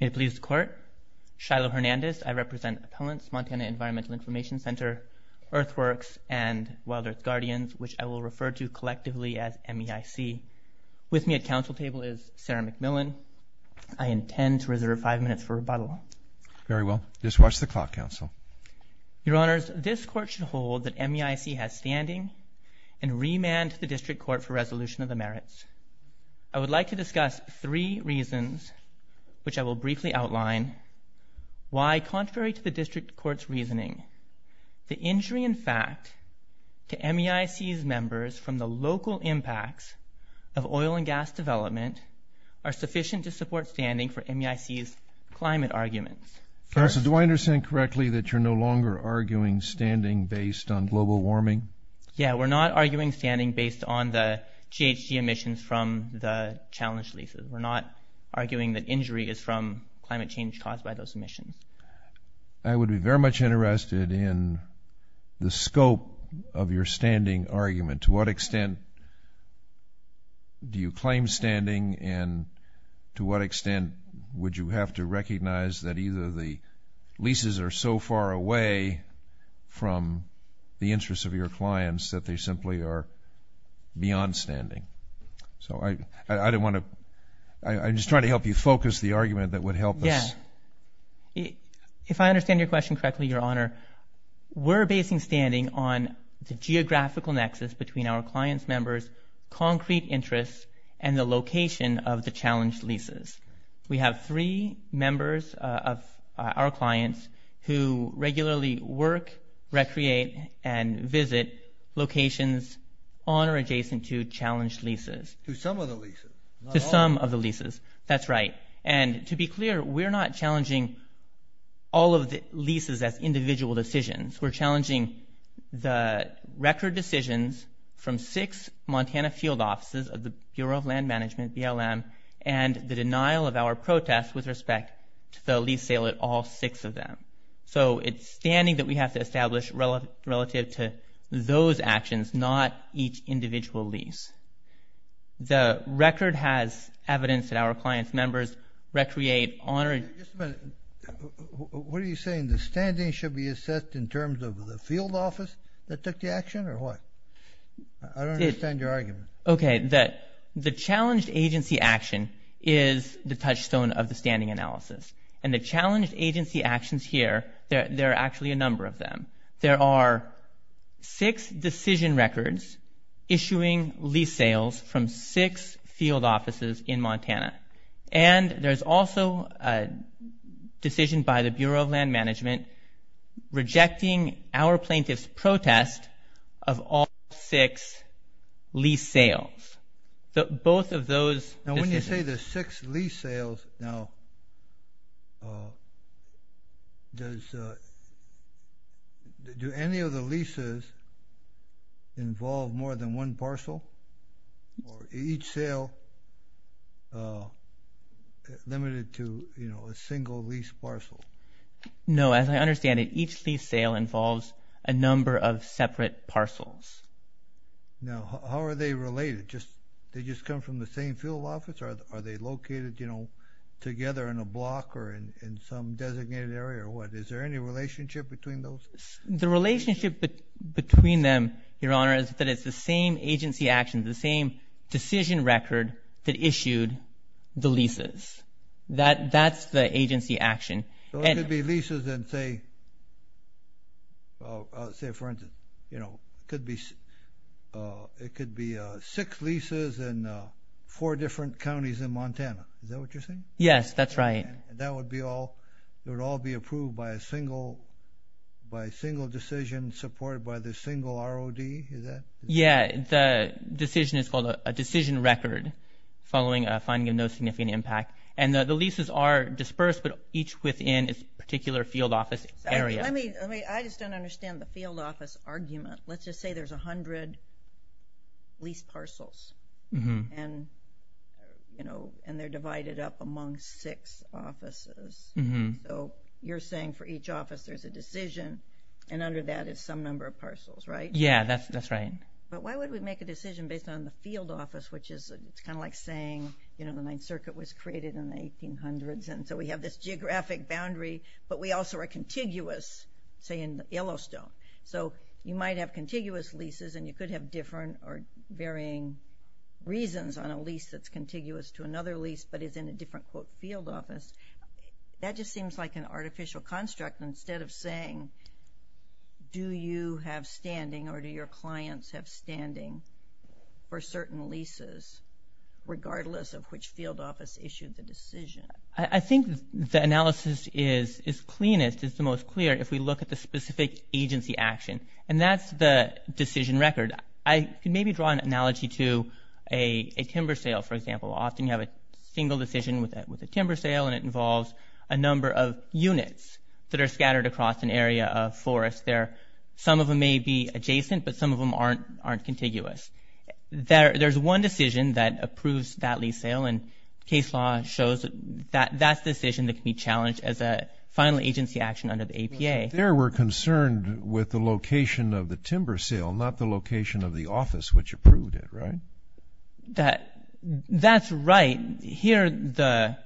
May it please the Court, Shiloh Hernandez, I represent Appellants, Montana Environmental Information Center, Earthworks, and Wild Earth Guardians, which I will refer to collectively as MEIC. With me at Council Table is Sarah McMillan. I intend to reserve five minutes for rebuttal. Very well. Just watch the clock, Counsel. Your Honors, this Court should hold that MEIC has standing and remand to the District Court for resolution of the merits. I would like to discuss three reasons, which I will briefly outline, why, contrary to the District Court's reasoning, the injury in fact to MEIC's members from the local impacts of oil and gas development are sufficient to support standing for MEIC's climate arguments. Counsel, do I understand correctly that you're no longer arguing standing based on global warming? Yeah, we're not arguing standing based on the GHG emissions from the challenge leases. We're not arguing that injury is from climate change caused by those emissions. I would be very much interested in the scope of your standing argument. To what extent do you claim standing and to what extent would you have to recognize that either the leases are so far away from the interests of your clients that they simply are beyond standing? So I don't want to, I'm just trying to help you focus the argument that would help us. If I understand your question correctly, Your Honor, we're basing standing on the geographical nexus between our clients' members' concrete interests and the location of the challenge leases. We have three members of our clients who regularly work, recreate, and visit locations on or adjacent to challenge leases. To some of the leases? To some of the leases, that's right. And to be clear, we're not challenging all of the leases as individual decisions. We're challenging the record decisions from six Montana field offices of the Bureau of Land Management, BLM, and the denial of our protest with respect to the lease sale at all six of them. So it's standing that we have to establish relative to those actions, not each individual lease. The record has evidence that our clients' members recreate on or adjacent to challenge leases. Just a minute. What are you saying? The standing should be assessed in terms of the field office that took the action or what? I don't understand your argument. Okay. The challenged agency action is the touchstone of the standing analysis. And the challenged agency actions here, there are actually a number of them. There are six decision records issuing lease sales from six field offices in Montana. And there's also a decision by the Bureau of Land Management rejecting our plaintiff's protest of all six lease sales. Both of those decisions. Now when you say there's six lease sales, now, does, do any of the leases involve more than one parcel? Or each sale limited to, you know, a single lease parcel? No. As I understand it, each lease sale involves a number of separate parcels. Now, how are they related? Just, they just come from the same field office? Or are they located, you know, together in a block or in some designated area or what? Is there any relationship between those? The relationship between them, Your Honor, is that it's the same agency actions, the same decision record that issued the leases. That, that's the agency action. So it could be leases in, say, say for instance, you know, could be, it could be six leases in four different counties in Montana. Is that what you're saying? Yes, that's right. And that would be all, it would all be approved by a single, by a single decision supported by the single ROD, is that? Yeah, the decision is called a decision record following a finding of no significant impact. And the leases are dispersed, but each within its particular field office area. Let me, let me, I just don't understand the field office argument. Let's just say there's a hundred lease parcels. And, you know, and they're divided up among six offices. So, you're saying for each office there's a decision, and under that is some number of parcels, right? Yeah, that's, that's right. But why would we make a decision based on the field office, which is, it's kind of like saying, you know, the Ninth Circuit was created in the 1800s, and so we have this geographic boundary, but we also are contiguous, say, in Yellowstone. So, you might have contiguous leases and you could have different or varying reasons on a lease that's contiguous to another lease but is in a different, quote, field office. That just seems like an artificial construct instead of saying, do you have standing or do your clients have standing for certain leases, regardless of which field office issued the decision? I think the analysis is cleanest, is the most clear, if we look at the specific agency action. And that's the decision record. I could maybe draw an analogy to a timber sale, for example. Often you have a single decision with a timber sale, and it involves a number of units that are scattered across an area of forest there. Some of them may be adjacent, but some of them aren't contiguous. There's one decision that approves that lease sale, and case law shows that that's a decision that can be challenged as a final agency action under the APA. There we're concerned with the location of the timber sale, not the location of the office which approved it, right? That's right. Here,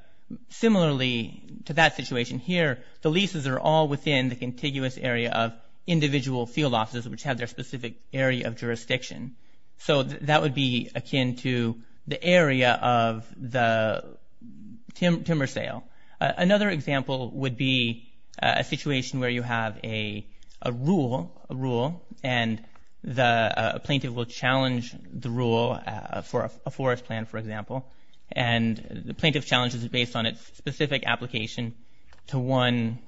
similarly to that situation here, the leases are all within the contiguous area of individual field offices which have their specific area of jurisdiction. So that would be akin to the area of the timber sale. Another example would be a situation where you have a rule, and the plaintiff will challenge the rule for a forest plan, for example. And the plaintiff challenges it based on its specific application to one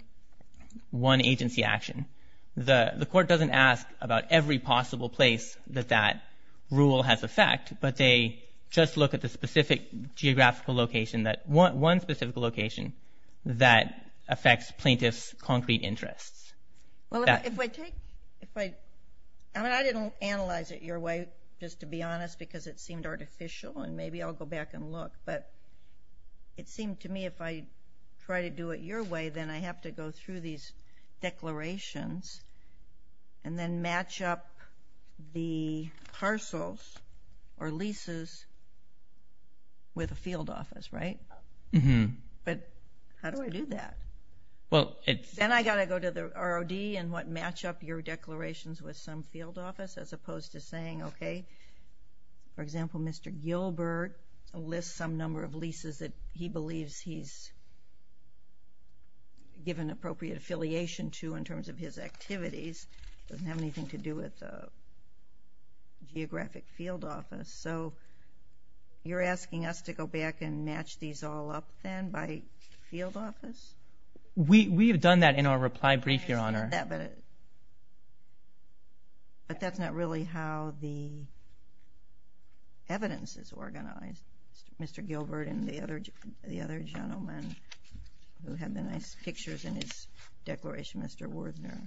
agency action. The court doesn't ask about every possible place that that rule has effect, but they just look at the specific geographical location, one specific location that affects plaintiff's concrete interests. I didn't analyze it your way, just to be honest, because it seemed artificial, and maybe I'll go back and look, but it seemed to me if I try to do it your way, then I have to go through these declarations and then match up the parcels or leases with a field office, right? But how do I do that? And I got to go to the ROD and match up your declarations with some field office as opposed to saying, okay, for example, Mr. Gilbert lists some number of leases that he believes he's given appropriate affiliation to in terms of his activities. It doesn't have anything to do with the geographic field office. So you're asking us to go back and match these all up then by field office? I understand that, but that's not really how the evidence is organized. Mr. Gilbert and the other gentleman who had the nice pictures in his declaration, Mr. Wurzner.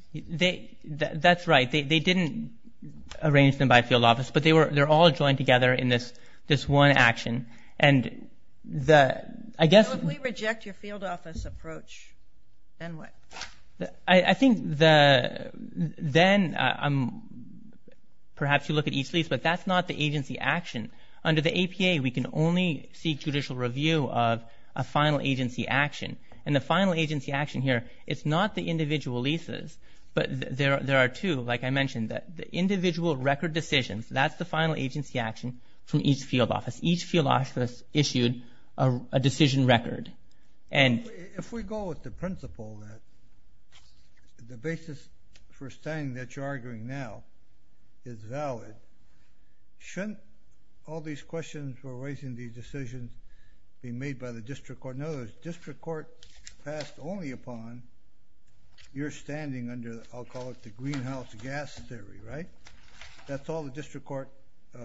That's right. They didn't arrange them by field office, but they're all joined together in this one action, and the, I guess... Well, if we reject your field office approach, then what? I think then perhaps you look at each lease, but that's not the agency action. Under the APA, we can only seek judicial review of a final agency action, and the final agency action here, it's not the individual leases, but there are two, like I mentioned. The individual record decisions, that's the final agency action from each field office. Each field office issued a decision record. Well, if we go with the principle that the basis for standing that you're arguing now is valid, shouldn't all these questions for raising these decisions be made by the district court? In other words, district court passed only upon your standing under, I'll call it the greenhouse gas theory, right? That's all the district court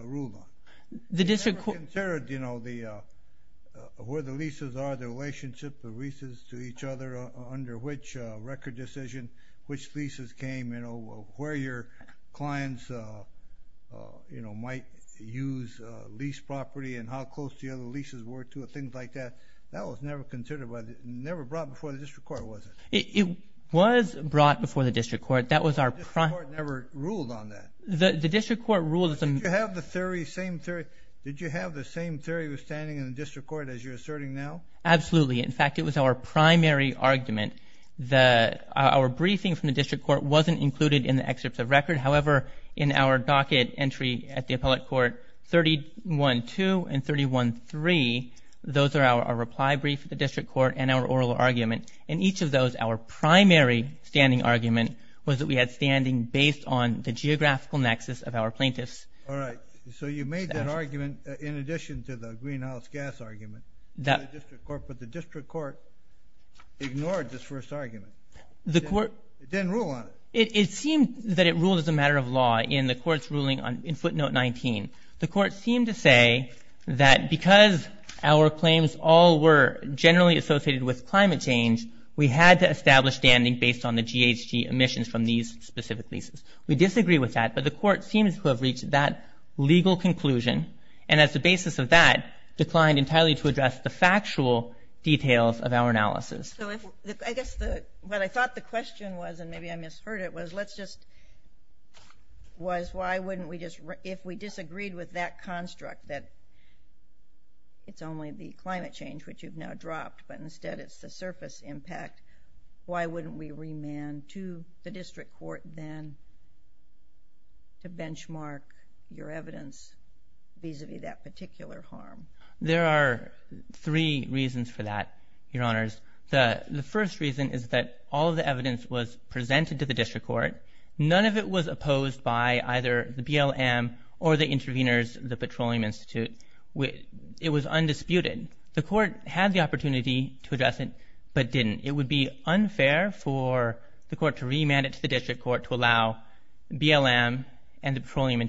ruled on. The district court... Where the leases are, the relationship, the leases to each other, under which record decision, which leases came, where your clients might use lease property, and how close the other leases were to it, things like that. That was never considered by the, never brought before the district court, was it? It was brought before the district court. That was our... The district court never ruled on that. The district court ruled... Did you have the theory, same theory, did you have the same theory with standing in the district court as you're asserting now? Absolutely. In fact, it was our primary argument. Our briefing from the district court wasn't included in the excerpts of record. However, in our docket entry at the appellate court, 31.2 and 31.3, those are our reply brief at the district court and our oral argument. In each of those, our primary standing argument was that we had standing based on the geographical nexus of our plaintiffs. All right. So you made that argument in addition to the greenhouse gas argument to the district court, but the district court ignored this first argument. It didn't rule on it. It seemed that it ruled as a matter of law in the court's ruling in footnote 19. The court seemed to say that because our claims all were generally associated with climate change, we had to establish standing based on the GHG emissions from these specific leases. We disagree with that, but the court seems to have reached that legal conclusion and as the basis of that, declined entirely to address the factual details of our analysis. So I guess what I thought the question was, and maybe I misheard it, was why wouldn't we just, if we disagreed with that construct, that it's only the climate change which you've now dropped, but instead it's the surface impact, why wouldn't we remand to the district court then to benchmark your evidence vis-a-vis that particular harm? There are three reasons for that, Your Honors. The first reason is that all of the evidence was presented to the district court. None of it was opposed by either the BLM or the interveners, the Petroleum Institute. It was undisputed. The court had the opportunity to address it, but didn't. It would be unfair for the court to remand it to the district court to allow BLM and the Petroleum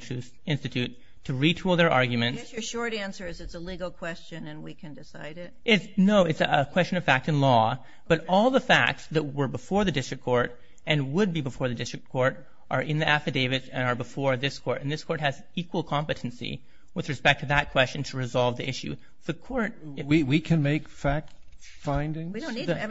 Institute to retool their arguments. I guess your short answer is it's a legal question and we can decide it. No, it's a question of fact and law, but all the facts that were before the district court and would be before the district court are in the affidavits and are before this court, and this court has equal competency with respect to that question to resolve the issue. We can make fact findings? We don't need to.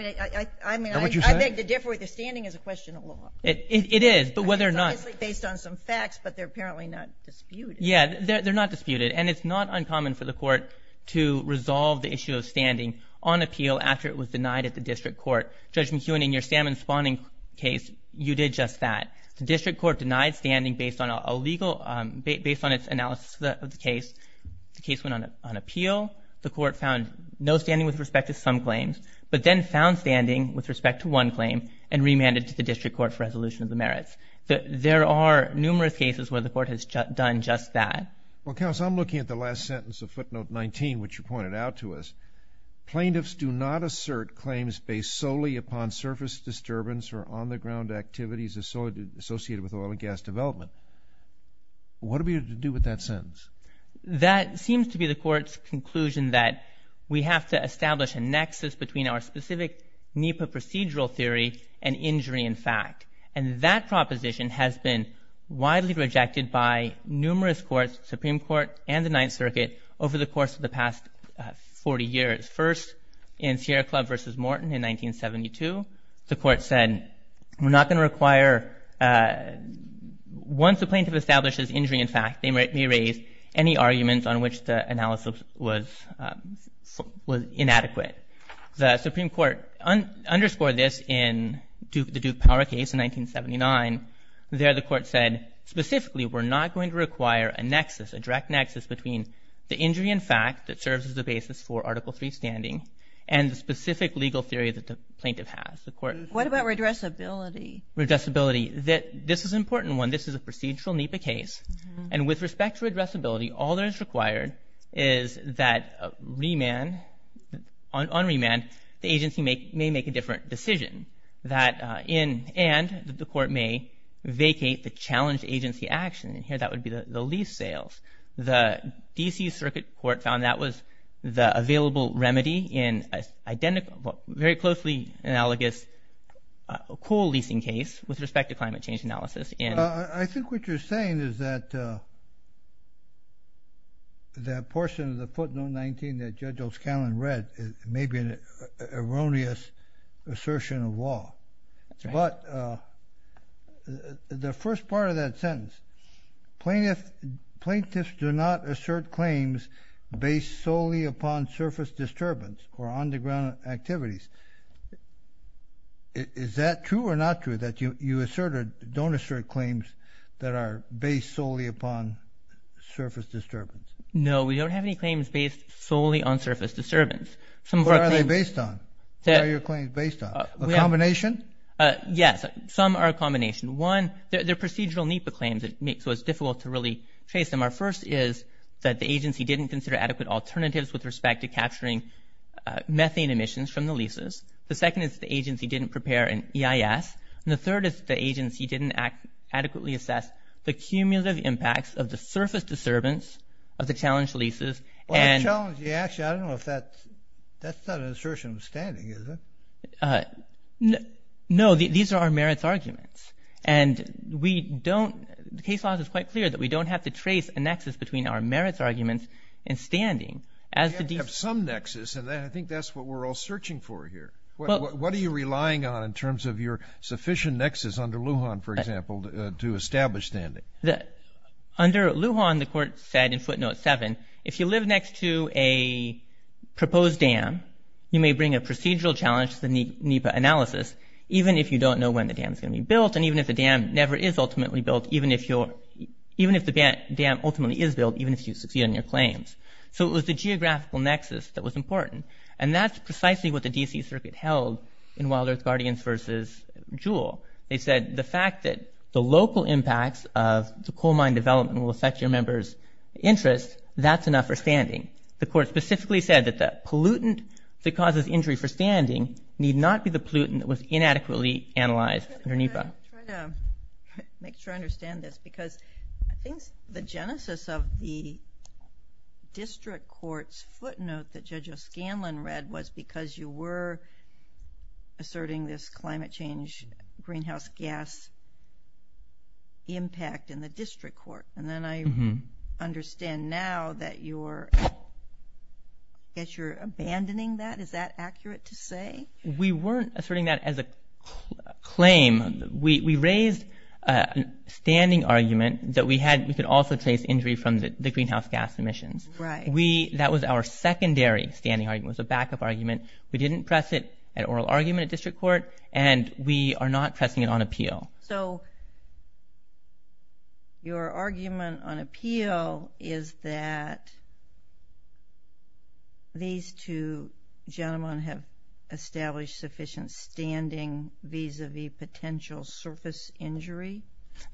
I mean, I beg to differ. The standing is a question of law. It is, but whether or not... It's obviously based on some facts, but they're apparently not disputed. Yeah, they're not disputed, and it's not uncommon for the court to resolve the issue of standing on appeal after it was denied at the district court. Judge McEwen, in your salmon spawning case, you did just that. The district court denied standing based on a legal, based on its analysis of the case. The case went on appeal. The court found no standing with respect to some claims, but then found standing with respect to one claim and remanded to the district court for resolution of the merits. There are numerous cases where the court has done just that. Well, counsel, I'm looking at the last sentence of footnote 19, which you pointed out to us. Plaintiffs do not assert claims based solely upon surface disturbance or on-the-ground activities associated with oil and gas development. What are we to do with that sentence? That seems to be the court's conclusion that we have to establish a nexus between our specific NEPA procedural theory and injury in fact, and that proposition has been widely rejected by numerous courts, Supreme Court and the Ninth Circuit, over the course of the past 40 years. First, in Sierra Club v. Morton in 1972, the court said, we're not going to require, once a plaintiff establishes injury in fact, they may raise any arguments on which the analysis was inadequate. The Supreme Court underscored this in the Duke Power case in 1979. There the court said, specifically, we're not going to require a nexus, a direct nexus, which is the basis for Article III standing, and the specific legal theory that the plaintiff has. What about redressability? Redressability. This is an important one. This is a procedural NEPA case, and with respect to redressability, all that is required is that on remand, the agency may make a different decision, and that the court may vacate the challenged agency action. Here, that would be the lease sales. The D.C. Circuit Court found that was the available remedy in a very closely analogous coal leasing case, with respect to climate change analysis. I think what you're saying is that that portion of the footnote 19 that Judge O'Scallion read may be an erroneous assertion of law, but the first part of that sentence, plaintiffs do not assert claims based solely upon surface disturbance or underground activities. Is that true or not true, that you assert or don't assert claims that are based solely upon surface disturbance? No, we don't have any claims based solely on surface disturbance. What are they based on? What are your claims based on? A combination? Yes, some are a combination. One, they're procedural NEPA claims, so it's difficult to really trace them. Our first is that the agency didn't consider adequate alternatives with respect to capturing methane emissions from the leases. The second is the agency didn't prepare an EIS, and the third is the agency didn't adequately assess the cumulative impacts of the surface disturbance of the challenged leases. Well, the challenge, actually, I don't know if that's, that's not an assertion of standing, is it? No, these are our merits arguments, and we don't, the case law is quite clear that we don't have to trace a nexus between our merits arguments and standing. You have to have some nexus, and I think that's what we're all searching for here. What are you relying on in terms of your sufficient nexus under Lujan, for example, to establish standing? Under Lujan, the court said in footnote seven, if you live next to a proposed dam, you may bring a procedural challenge to the NEPA analysis, even if you don't know when the dam is going to be built, and even if the dam never is ultimately built, even if you're, even if the dam ultimately is built, even if you succeed on your claims. So it was the geographical nexus that was important, and that's precisely what the coal mine development will affect your members' interest. That's enough for standing. The court specifically said that the pollutant that causes injury for standing need not be the pollutant that was inadequately analyzed under NEPA. I'm going to try to make sure I understand this, because I think the genesis of the district court's footnote that Judge O'Scanlan read was because you were asserting this climate change, greenhouse gas impact in the district court. And then I understand now that you're, I guess you're abandoning that. Is that accurate to say? We weren't asserting that as a claim. We raised a standing argument that we had, we could also trace injury from the greenhouse gas emissions. Right. We, that was our secondary standing argument. It was a backup argument. We didn't press it, an oral argument at district court, and we are not pressing it on appeal. So your argument on appeal is that these two gentlemen have established sufficient standing vis-a-vis potential surface injury?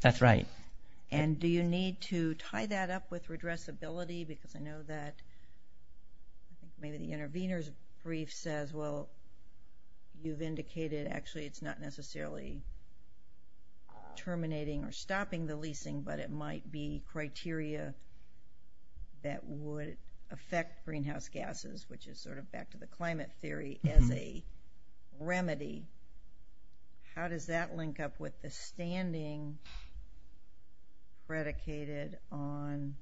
That's right. And do you need to tie that up with redressability? Because I know that maybe the intervener's brief says, well, you've indicated actually it's not necessarily terminating or stopping the leasing, but it might be criteria that would affect greenhouse gases, which is sort of back to the climate theory, as a remedy. How does that link up with the standing predicated on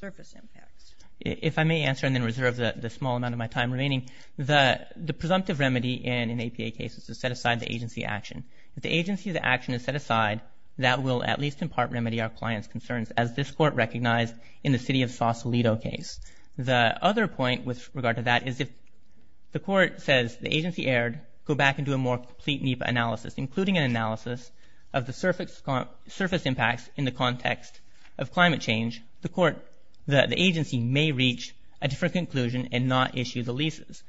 surface impacts? If I may answer and then reserve the small amount of my time remaining, the presumptive remedy in an APA case is to set aside the agency action. If the agency action is set aside, that will at least in part remedy our client's concerns, as this court recognized in the city of Sausalito case. The other point with regard to that is if the court says the agency erred, go back and do a more complete NEPA analysis, including an analysis of the surface impacts in the context of climate change, the agency may reach a different conclusion and not issue the leases.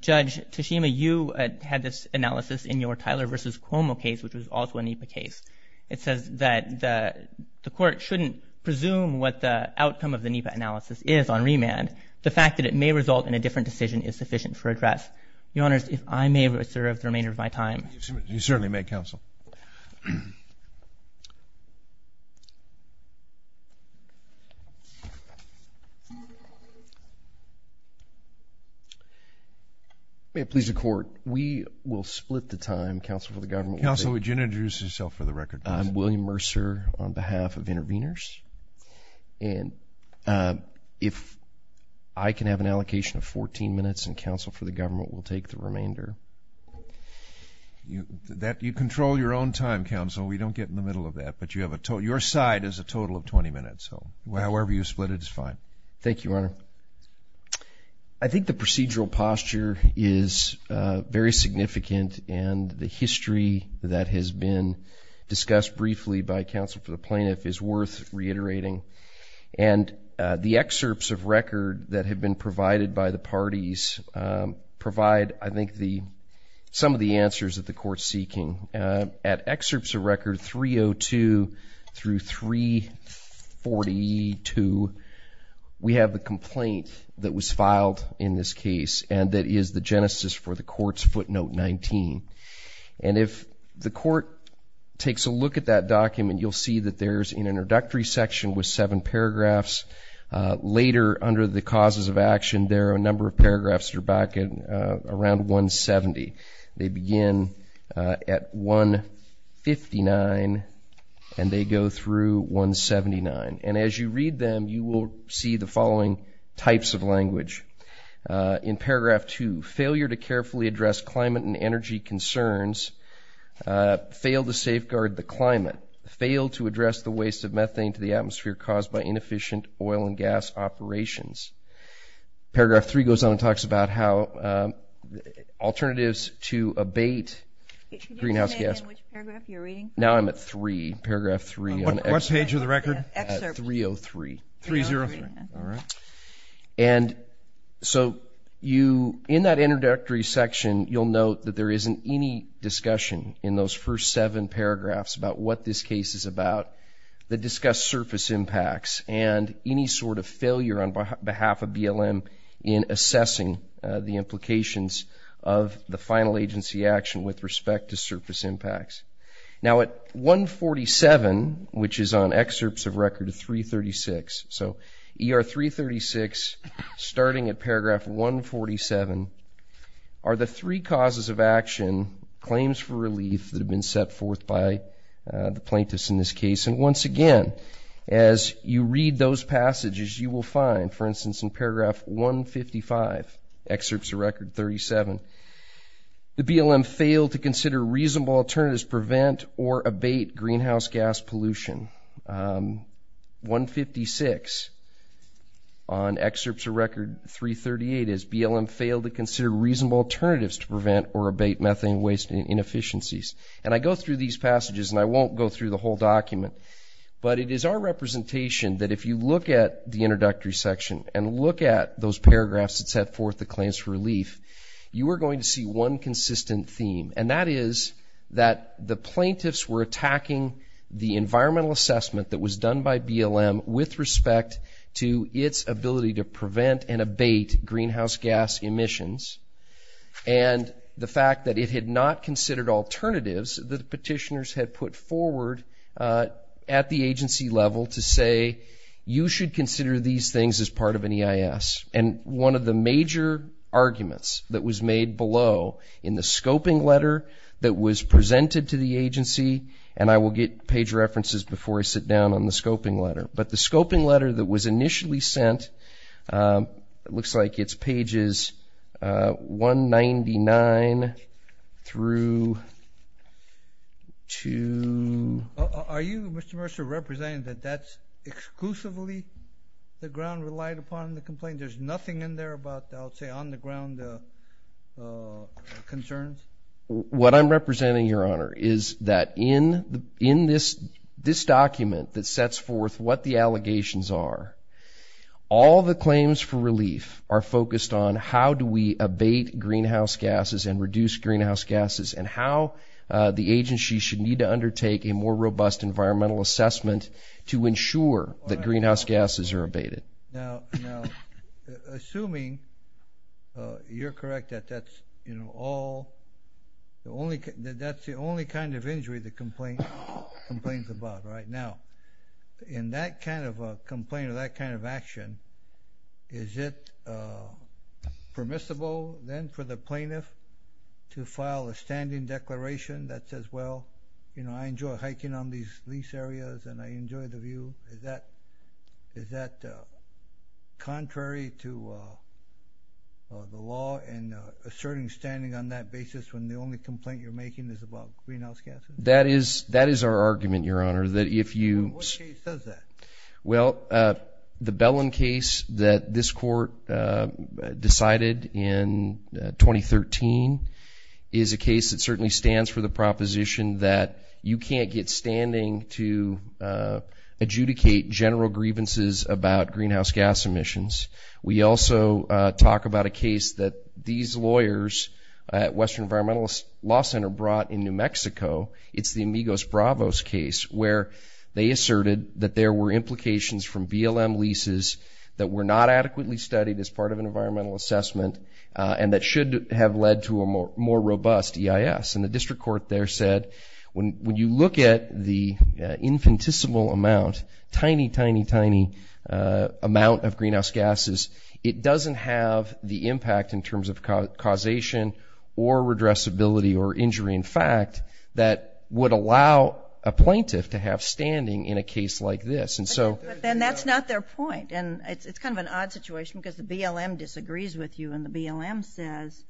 Judge Tashima, you had this analysis in your Tyler v. Cuomo case, which was also a NEPA case. It says that the court shouldn't presume what the outcome of the NEPA analysis is on remand. The fact that it may result in a different decision is sufficient for redress. Your Honors, if I may reserve the remainder of my time. You certainly may, Counsel. May it please the court, we will split the time, Counsel, for the government. Counsel, would you introduce yourself for the record, please? I'm William Mercer on behalf of Intervenors. And if I can have an allocation of 14 minutes and Counsel for the government will take the remainder. You control your own time, Counsel. We don't get in the middle of that. But your side is a total of 20 minutes. However you split it is fine. Thank you, Your Honor. I think the procedural posture is very significant and the history that has been discussed briefly by Counsel for the plaintiff is worth reiterating. And the excerpts of record that have been provided by the parties provide, I think, some of the answers that the court is seeking. At excerpts of record 302 through 342, we have the complaint that was filed in this case, and that is the genesis for the court's footnote 19. And if the court takes a look at that document, you'll see that there's an introductory section with seven paragraphs. Later, under the causes of action, there are a number of paragraphs that are back around 170. They begin at 159 and they go through 179. And as you read them, you will see the following types of language. In paragraph 2, failure to carefully address climate and energy concerns, fail to safeguard the climate, fail to address the waste of methane to the atmosphere caused by inefficient oil and gas operations. Paragraph 3 goes on and talks about how alternatives to abate greenhouse gas. Now I'm at 3, paragraph 3. What page of the record? 303. 303. All right. And so in that introductory section, you'll note that there isn't any discussion in those first seven paragraphs about what this case is about that discuss surface impacts and any sort of failure on behalf of BLM in assessing the implications of the final agency action with respect to surface impacts. Now at 147, which is on excerpts of record 336. So ER 336, starting at paragraph 147, are the three causes of action, claims for relief that have been set forth by the plaintiffs in this case. And once again, as you read those passages, you will find, for instance, in paragraph 155, excerpts of record 37, the BLM failed to consider reasonable alternatives to prevent or abate greenhouse gas pollution. 156 on excerpts of record 338 is BLM failed to consider reasonable alternatives to prevent or abate methane waste and inefficiencies. And I go through these passages, and I won't go through the whole document, but it is our representation that if you look at the introductory section and look at those paragraphs that set forth the claims for relief, you are going to see one consistent theme, and that is that the plaintiffs were attacking the environmental assessment that was done by BLM with respect to its ability to prevent and abate greenhouse gas emissions and the fact that it had not considered alternatives that petitioners had put forward at the agency level to say, you should consider these things as part of an EIS. And one of the major arguments that was made below in the scoping letter that was presented to the agency, and I will get page references before I sit down on the scoping letter, but the scoping letter that was initially sent, it looks like it's pages 199 through 2. Are you, Mr. Mercer, representing that that's exclusively the ground relied upon in the complaint? There's nothing in there about, I would say, on the ground concerns? What I'm representing, Your Honor, is that in this document that sets forth what the allegations are, all the claims for relief are focused on how do we abate greenhouse gases and reduce greenhouse gases and how the agency should need to undertake a more robust environmental assessment to ensure that greenhouse gases are abated. Now, assuming you're correct that that's the only kind of injury the complaint is about right now, in that kind of complaint or that kind of action, is it permissible then for the plaintiff to file a standing declaration that says, well, you know, I enjoy hiking on these lease areas and I enjoy the view? Is that contrary to the law in asserting standing on that basis when the only complaint you're making is about greenhouse gases? That is our argument, Your Honor. What case says that? Well, the Bellin case that this court decided in 2013 is a case that certainly stands for the proposition that you can't get standing to adjudicate general grievances about greenhouse gas emissions. We also talk about a case that these lawyers at Western Environmental Law Center brought in New Mexico. It's the Amigos Bravos case where they asserted that there were implications from BLM leases that were not adequately studied as part of an environmental assessment and that should have led to a more robust EIS. And the district court there said when you look at the infinitesimal amount, tiny, tiny, tiny amount of greenhouse gases, it doesn't have the impact in terms of causation or redressability or injury in fact that would allow a plaintiff to have standing in a case like this. But then that's not their point, and it's kind of an odd situation because the BLM disagrees with you, and the BLM says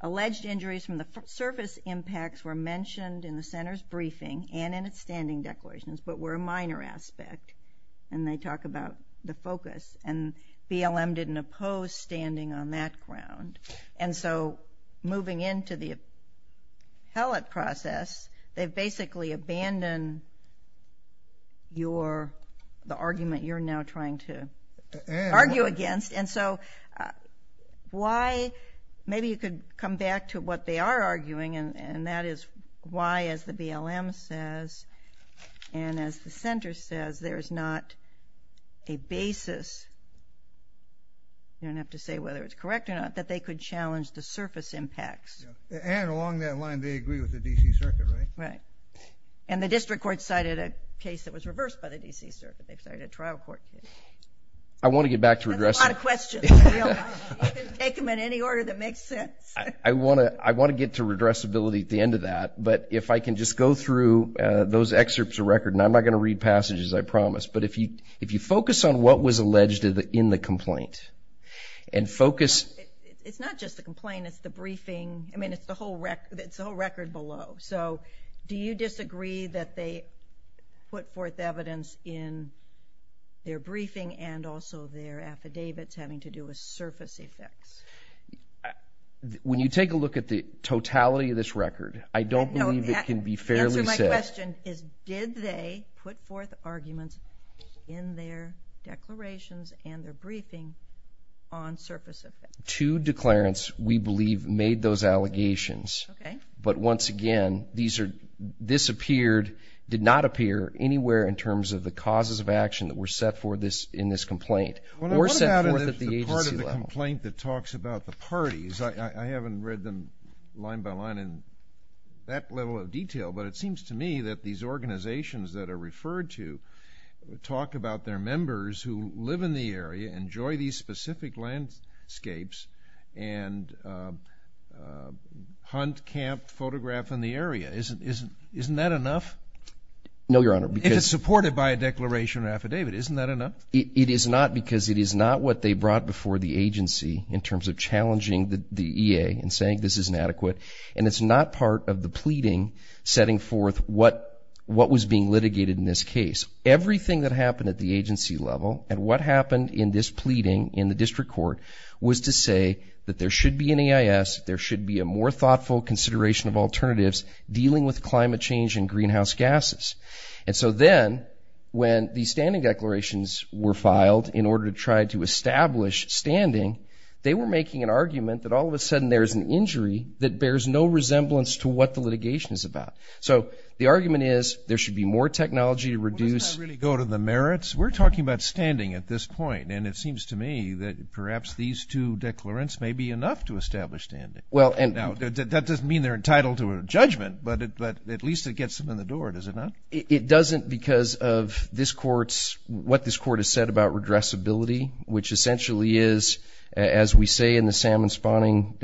alleged injuries from the surface impacts were mentioned in the center's briefing and in its standing declarations but were a minor aspect, and they talk about the focus. And BLM didn't oppose standing on that ground. And so moving into the appellate process, they've basically abandoned the argument you're now trying to argue against. And so why? Maybe you could come back to what they are arguing, and that is why, as the BLM says, and as the center says, there is not a basis. You don't have to say whether it's correct or not, that they could challenge the surface impacts. And along that line, they agree with the D.C. Circuit, right? Right. And the district court cited a case that was reversed by the D.C. Circuit. They've cited a trial court case. I want to get back to redressability. That's a lot of questions. You can take them in any order that makes sense. I want to get to redressability at the end of that, but if I can just go through those excerpts of record, and I'm not going to read passages, I promise, but if you focus on what was alleged in the complaint and focus. It's not just the complaint. It's the briefing. I mean, it's the whole record below. So do you disagree that they put forth evidence in their briefing and also their affidavits having to do with surface effects? When you take a look at the totality of this record, I don't believe it can be fairly said. The answer to my question is did they put forth arguments in their declarations and their briefing on surface effects? Two declarants, we believe, made those allegations. Okay. But once again, this appeared, did not appear anywhere in terms of the causes of action that were set forth in this complaint or set forth at the agency level. What about the part of the complaint that talks about the parties? I haven't read them line by line in that level of detail, but it seems to me that these organizations that are referred to talk about their members who live in the area, enjoy these specific landscapes, and hunt, camp, photograph in the area. Isn't that enough? No, Your Honor. If it's supported by a declaration or affidavit, isn't that enough? It is not because it is not what they brought before the agency in terms of challenging the EA and saying this is inadequate, and it's not part of the pleading setting forth what was being litigated in this case. Everything that happened at the agency level and what happened in this pleading in the district court was to say that there should be an EIS, there should be a more thoughtful consideration of alternatives dealing with climate change and greenhouse gases. And so then, when the standing declarations were filed in order to try to establish standing, they were making an argument that all of a sudden there is an injury that bears no resemblance to what the litigation is about. So the argument is there should be more technology to reduce. Doesn't that really go to the merits? We're talking about standing at this point, and it seems to me that perhaps these two declarants may be enough to establish standing. Now, that doesn't mean they're entitled to a judgment, but at least it gets them in the door, does it not? It doesn't because of this court's, what this court has said about redressability, which essentially is, as we say in the salmon spawning,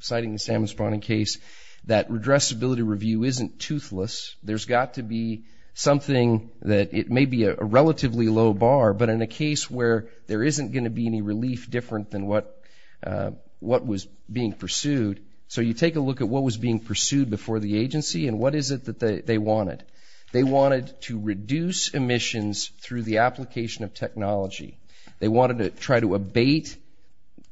citing the salmon spawning case, that redressability review isn't toothless. There's got to be something that it may be a relatively low bar, but in a case where there isn't going to be any relief different than what was being pursued. So you take a look at what was being pursued before the agency and what is it that they wanted. They wanted to reduce emissions through the application of technology. They wanted to try to abate.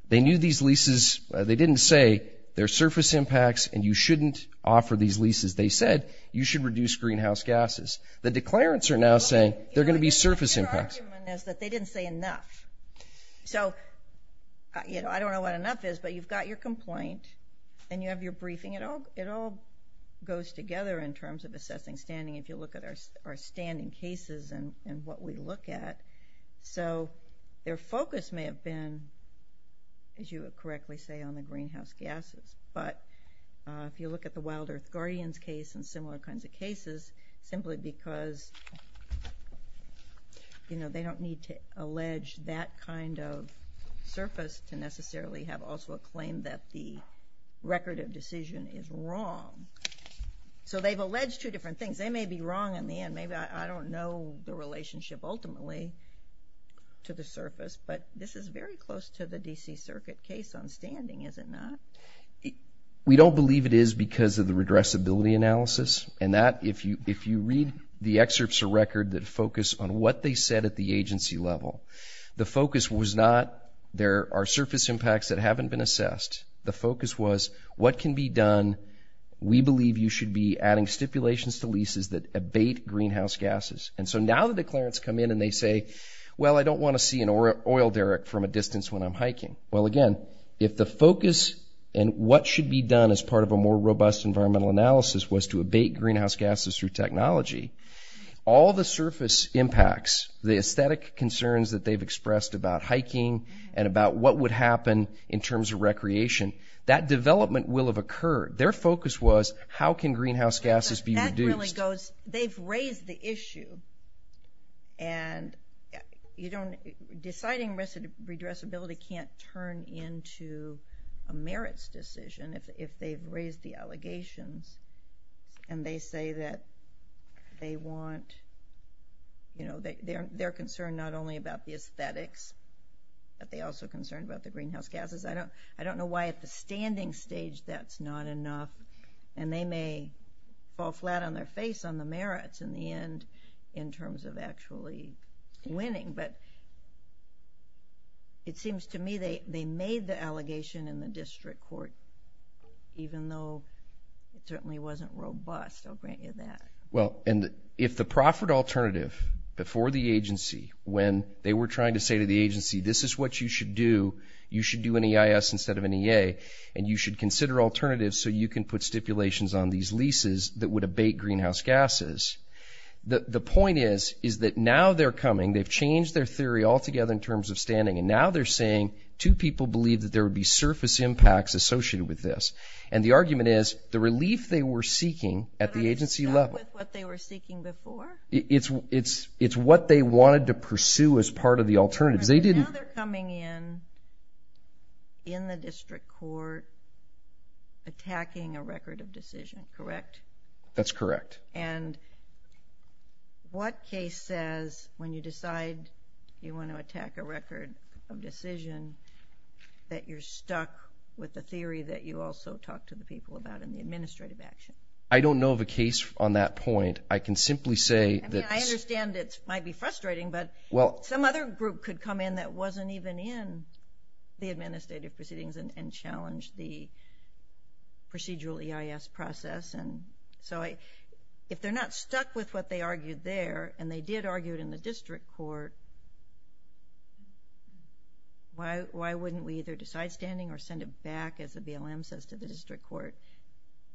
They knew these leases. They didn't say they're surface impacts and you shouldn't offer these leases. They said you should reduce greenhouse gases. The declarants are now saying they're going to be surface impacts. Their argument is that they didn't say enough. So I don't know what enough is, but you've got your complaint and you have your briefing. It all goes together in terms of assessing standing if you look at our standing cases and what we look at. So their focus may have been, as you correctly say, on the greenhouse gases. But if you look at the Wild Earth Guardians case and similar kinds of cases, simply because they don't need to allege that kind of surface to necessarily have also a claim that the record of decision is wrong. So they've alleged two different things. They may be wrong in the end. Maybe I don't know the relationship ultimately to the surface, but this is very close to the D.C. Circuit case on standing, is it not? We don't believe it is because of the redressability analysis. And that, if you read the excerpts of record that focus on what they said at the agency level, the focus was not there are surface impacts that haven't been assessed. The focus was what can be done. We believe you should be adding stipulations to leases that abate greenhouse gases. And so now the declarants come in and they say, well, I don't want to see an oil derrick from a distance when I'm hiking. Well, again, if the focus and what should be done as part of a more robust environmental analysis was to abate greenhouse gases through technology, all the surface impacts, the aesthetic concerns that they've expressed about hiking and about what would happen in terms of recreation, that development will have occurred. Their focus was how can greenhouse gases be reduced. That really goes, they've raised the issue, and deciding redressability can't turn into a merits decision if they've raised the allegations. And they say that they want, you know, they're concerned not only about the aesthetics, but they're also concerned about the greenhouse gases. I don't know why at the standing stage that's not enough, and they may fall flat on their face on the merits in the end in terms of actually winning. But it seems to me they made the allegation in the district court, even though it certainly wasn't robust, I'll grant you that. Well, and if the proffered alternative before the agency, when they were trying to say to the agency, this is what you should do, you should do an EIS instead of an EA, and you should consider alternatives so you can put stipulations on these leases that would abate greenhouse gases. The point is, is that now they're coming, they've changed their theory altogether in terms of standing, and now they're saying two people believe that there would be surface impacts associated with this. And the argument is the relief they were seeking at the agency level. But are they stuck with what they were seeking before? It's what they wanted to pursue as part of the alternatives. Now they're coming in, in the district court, attacking a record of decision, correct? That's correct. And what case says, when you decide you want to attack a record of decision, that you're stuck with the theory that you also talked to the people about in the administrative action? I don't know of a case on that point. I can simply say that it's... They come in that wasn't even in the administrative proceedings and challenged the procedural EIS process. And so if they're not stuck with what they argued there, and they did argue it in the district court, why wouldn't we either decide standing or send it back, as the BLM says, to the district court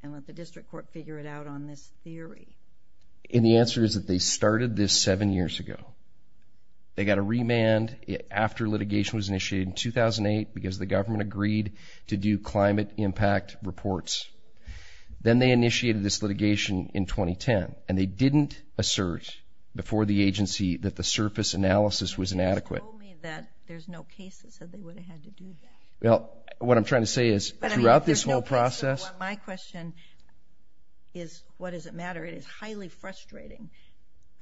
and let the district court figure it out on this theory? And the answer is that they started this seven years ago. They got a remand after litigation was initiated in 2008 because the government agreed to do climate impact reports. Then they initiated this litigation in 2010, and they didn't assert before the agency that the surface analysis was inadequate. They just told me that there's no case that said they would have had to do that. Well, what I'm trying to say is, throughout this whole process... My question is, what does it matter? It is highly frustrating.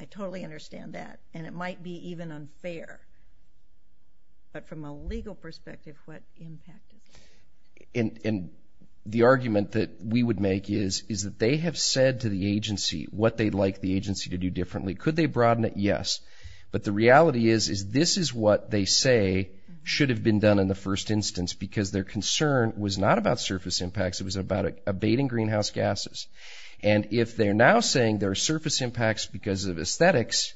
I totally understand that, and it might be even unfair. But from a legal perspective, what impact? And the argument that we would make is that they have said to the agency what they'd like the agency to do differently. Could they broaden it? Yes. But the reality is this is what they say should have been done in the first instance because their concern was not about surface impacts. It was about abating greenhouse gases. And if they're now saying there are surface impacts because of aesthetics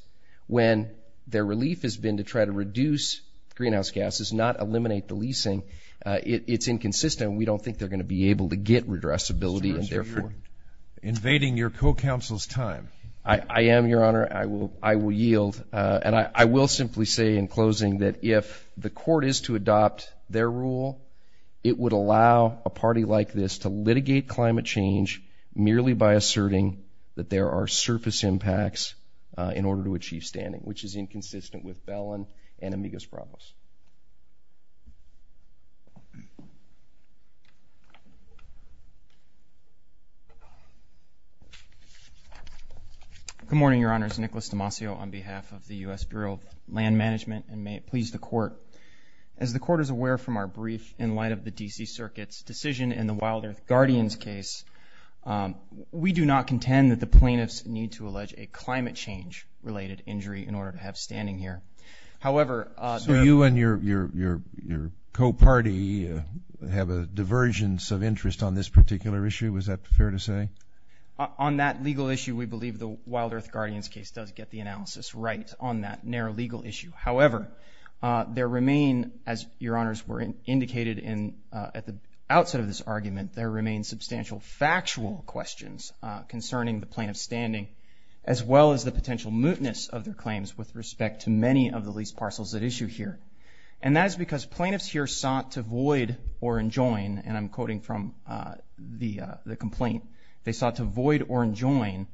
when their relief has been to try to reduce greenhouse gases, not eliminate the leasing, it's inconsistent. We don't think they're going to be able to get redressability. So you're invading your co-counsel's time. I am, Your Honor. I will yield. And I will simply say in closing that if the court is to adopt their rule, it would allow a party like this to litigate climate change merely by asserting that there are surface impacts in order to achieve standing, which is inconsistent with Bellin and Amigas-Bravos. Good morning, Your Honors. Nicholas Demasio on behalf of the U.S. Bureau of Land Management, and may it please the Court. As the Court is aware from our brief in light of the D.C. Circuit's decision in the Wild Earth Guardians case, we do not contend that the plaintiffs need to allege a climate change-related injury in order to have standing here. So you and your co-party have a divergence of interest on this particular issue? Is that fair to say? On that legal issue, we believe the Wild Earth Guardians case does get the analysis right on that narrow legal issue. However, there remain, as Your Honors were indicated at the outset of this argument, there remain substantial factual questions concerning the plaintiff's standing, as well as the potential mootness of their claims with respect to many of the lease parcels at issue here. And that is because plaintiffs here sought to void or enjoin, and I'm quoting from the complaint, they sought to void or enjoin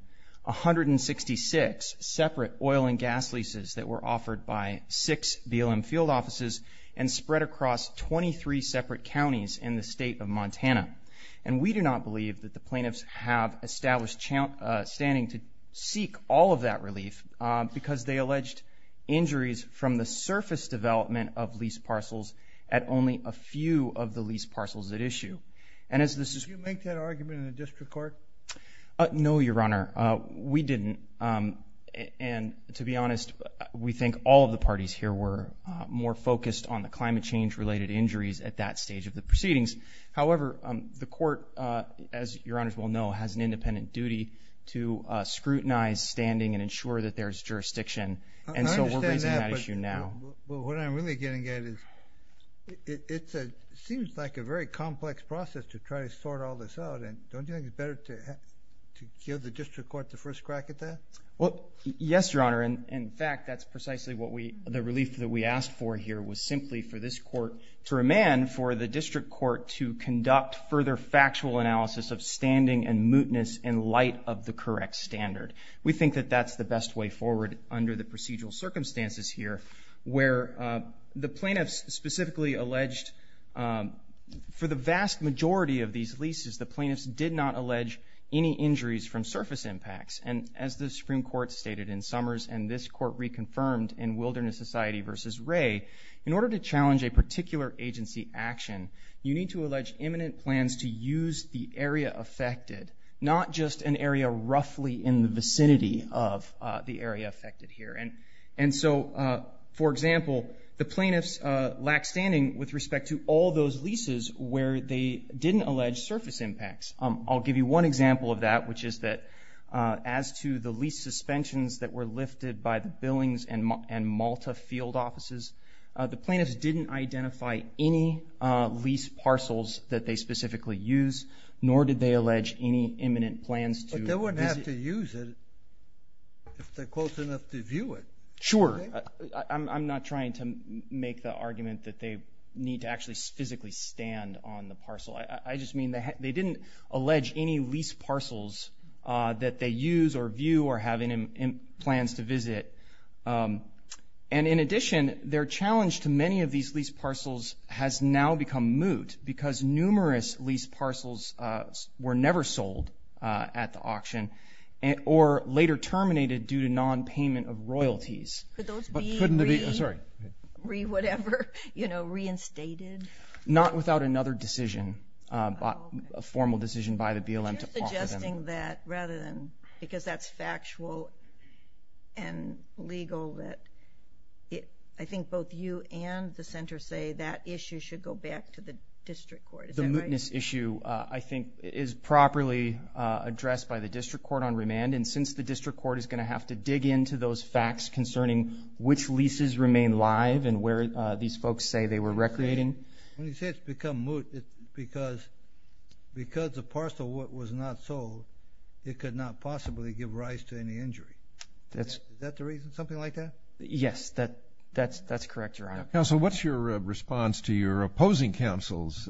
166 separate oil and gas leases that were offered by six BLM field offices and spread across 23 separate counties in the state of Montana. And we do not believe that the plaintiffs have established standing to seek all of that relief because they alleged injuries from the surface development of lease parcels at only a few of the lease parcels at issue. Did you make that argument in the District Court? No, Your Honor. We didn't. And to be honest, we think all of the parties here were more focused on the climate change-related injuries at that stage of the proceedings. However, the court, as Your Honors will know, has an independent duty to scrutinize standing and ensure that there is jurisdiction. And so we're raising that issue now. I understand that, but what I'm really getting at is it seems like a very complex process to try to sort all this out. Don't you think it's better to give the District Court the first crack at that? Well, yes, Your Honor. In fact, that's precisely the relief that we asked for here was simply for this court to remand for the District Court to conduct further factual analysis of standing and mootness in light of the correct standard. We think that that's the best way forward under the procedural circumstances here where the plaintiffs specifically alleged for the vast majority of these leases, the plaintiffs did not allege any injuries from surface impacts. And as the Supreme Court stated in Summers and this court reconfirmed in Wilderness Society v. Wray, in order to challenge a particular agency action, you need to allege imminent plans to use the area affected, not just an area roughly in the vicinity of the area affected here. And so, for example, the plaintiffs lack standing with respect to all those leases where they didn't allege surface impacts. I'll give you one example of that, which is that as to the lease suspensions that were lifted by the Billings and Malta field offices, the plaintiffs didn't identify any lease parcels that they specifically used, nor did they allege any imminent plans to visit. But they wouldn't have to use it if they're close enough to view it. Sure, I'm not trying to make the argument that they need to actually physically stand on the parcel. I just mean they didn't allege any lease parcels that they use or view or have any plans to visit. And in addition, their challenge to many of these lease parcels has now become moot or later terminated due to nonpayment of royalties. Could those be re-whatever, you know, reinstated? Not without another decision, a formal decision by the BLM to offer them. Are you suggesting that rather than, because that's factual and legal, that I think both you and the Center say that issue should go back to the district court. Is that right? The witness issue, I think, is properly addressed by the district court on remand. And since the district court is going to have to dig into those facts concerning which leases remain live and where these folks say they were recreating. When you say it's become moot, it's because the parcel was not sold, it could not possibly give rise to any injury. Is that the reason, something like that? Yes, that's correct, Your Honor. Counsel, what's your response to your opposing counsel's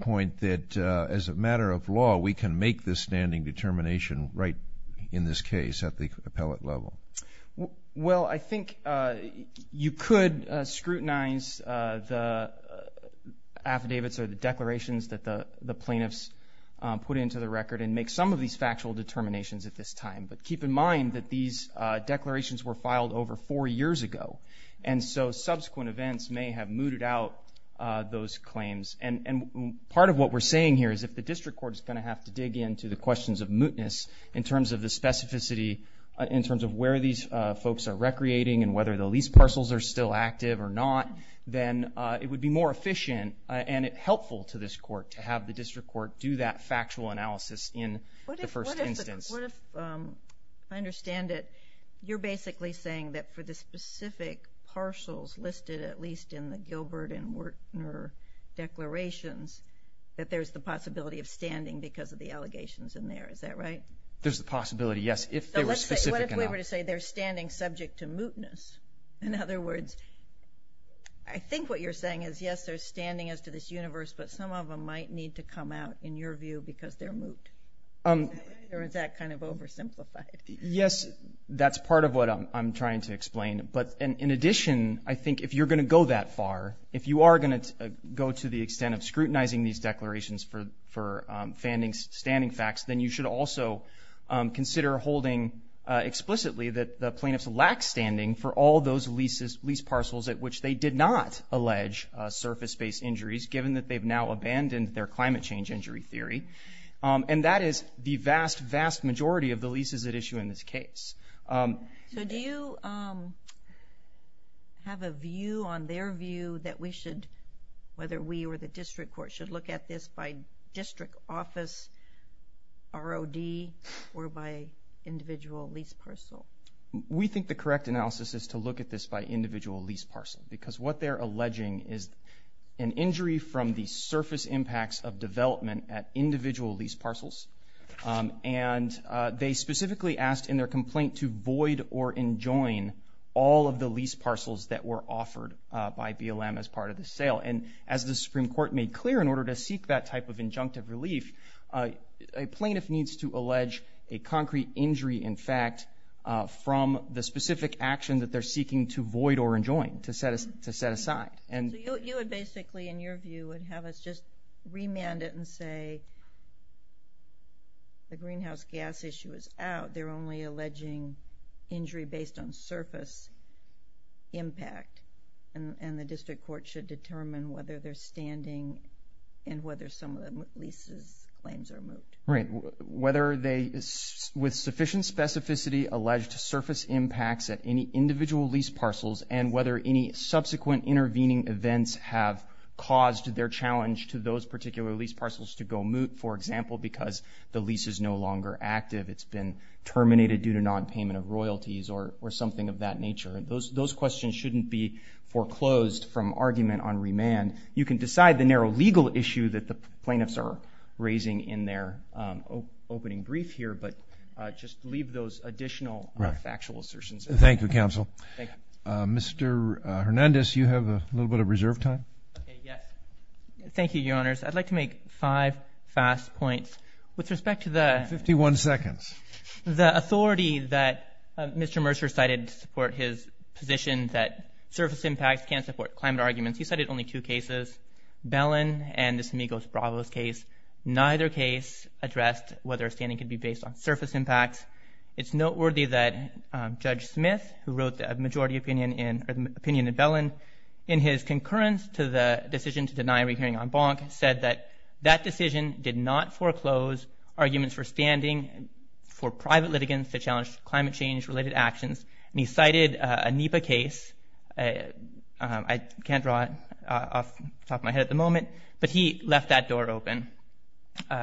point that as a matter of law, we can make this standing determination right in this case at the appellate level? Well, I think you could scrutinize the affidavits or the declarations that the plaintiffs put into the record and make some of these factual determinations at this time. But keep in mind that these declarations were filed over four years ago. And so subsequent events may have mooted out those claims. And part of what we're saying here is if the district court is going to have to dig into the questions of mootness in terms of the specificity, in terms of where these folks are recreating and whether the lease parcels are still active or not, then it would be more efficient and helpful to this court to have the district court do that factual analysis in the first instance. What if, if I understand it, you're basically saying that for the specific parcels listed at least in the Gilbert and Werner declarations, that there's the possibility of standing because of the allegations in there. Is that right? There's the possibility, yes, if they were specific enough. What if we were to say they're standing subject to mootness? In other words, I think what you're saying is, yes, they're standing as to this universe, but some of them might need to come out, in your view, because they're moot. Or is that kind of oversimplified? Yes, that's part of what I'm trying to explain. But in addition, I think if you're going to go that far, if you are going to go to the extent of scrutinizing these declarations for standing facts, then you should also consider holding explicitly that the plaintiffs lack standing for all those lease parcels at which they did not allege surface-based injuries, given that they've now abandoned their climate change injury theory. And that is the vast, vast majority of the leases at issue in this case. So do you have a view on their view that we should, whether we or the district court, should look at this by district office ROD or by individual lease parcel? We think the correct analysis is to look at this by individual lease parcel because what they're alleging is an injury from the surface impacts of development at individual lease parcels. And they specifically asked in their complaint to void or enjoin all of the lease parcels that were offered by BLM as part of the sale. And as the Supreme Court made clear, in order to seek that type of injunctive relief, a plaintiff needs to allege a concrete injury, in fact, from the specific action that they're seeking to void or enjoin, to set aside. So you would basically, in your view, would have us just remand it and say, the greenhouse gas issue is out. They're only alleging injury based on surface impact. And the district court should determine whether they're standing and whether some of the leases claims are moved. Right. Whether they, with sufficient specificity, allege surface impacts at any individual lease parcels and whether any subsequent intervening events have caused their challenge to those particular lease parcels to go moot, for example, because the lease is no longer active, it's been terminated due to nonpayment of royalties or something of that nature. Those questions shouldn't be foreclosed from argument on remand. You can decide the narrow legal issue that the plaintiffs are raising in their opening brief here, but just leave those additional factual assertions. Thank you, Counsel. Mr. Hernandez, you have a little bit of reserve time. Okay, yes. Thank you, Your Honors. I'd like to make five fast points. With respect to the- Fifty-one seconds. The authority that Mr. Mercer cited to support his position that surface impacts can't support climate arguments, he cited only two cases, Bellin and the Semigos-Bravos case. Neither case addressed whether a standing could be based on surface impacts. It's noteworthy that Judge Smith, who wrote the majority opinion in Bellin, in his concurrence to the decision to deny a rehearing on Bonk, said that that decision did not foreclose arguments for standing for private litigants to challenge climate change-related actions, and he cited a NEPA case. I can't draw it off the top of my head at the moment, but he left that door open.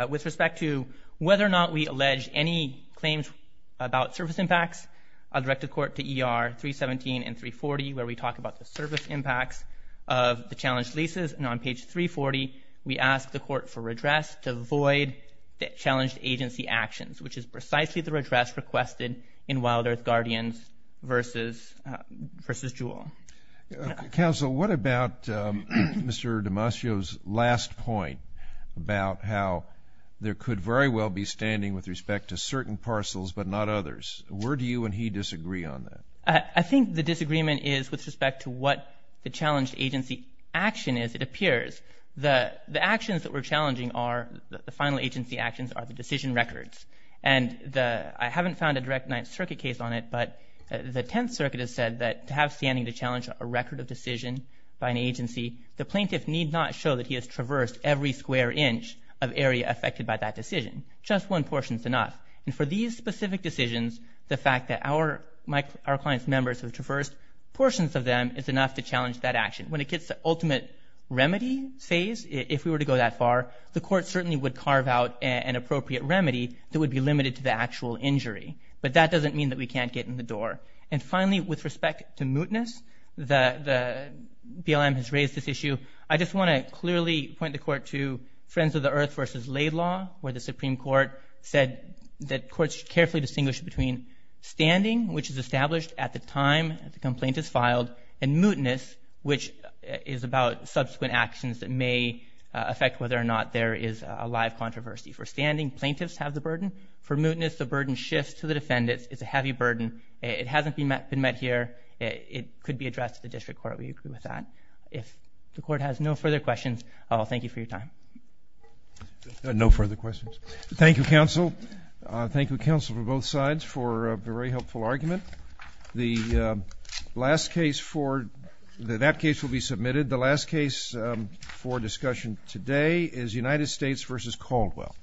With respect to whether or not we allege any claims about surface impacts, I'll direct the Court to ER 317 and 340, where we talk about the surface impacts of the challenged leases. And on page 340, we ask the Court for redress to avoid the challenged agency actions, which is precisely the redress requested in Wild Earth Guardians v. Jewell. Counsel, what about Mr. Damasio's last point about how there could very well be standing with respect to certain parcels but not others? Where do you and he disagree on that? I think the disagreement is with respect to what the challenged agency action is, it appears. The actions that we're challenging are the final agency actions are the decision records. And I haven't found a direct Ninth Circuit case on it, but the Tenth Circuit has said that to have standing to challenge a record of decision by an agency, the plaintiff need not show that he has traversed every square inch of area affected by that decision. Just one portion is enough. And for these specific decisions, the fact that our client's members have traversed portions of them is enough to challenge that action. When it gets to the ultimate remedy phase, if we were to go that far, the Court certainly would carve out an appropriate remedy that would be limited to the actual injury. But that doesn't mean that we can't get in the door. And finally, with respect to mootness, the BLM has raised this issue. I just want to clearly point the Court to Friends of the Earth v. Laidlaw, where the Supreme Court said that courts should carefully distinguish between standing, which is established at the time the complaint is filed, and mootness, which is about subsequent actions that may affect whether or not there is a live controversy. For standing, plaintiffs have the burden. For mootness, the burden shifts to the defendants. It's a heavy burden. It hasn't been met here. It could be addressed at the District Court. We agree with that. If the Court has no further questions, I'll thank you for your time. No further questions. Thank you, Counsel. Thank you, Counsel, for both sides for a very helpful argument. That case will be submitted. The last case for discussion today is United States v. Caldwell.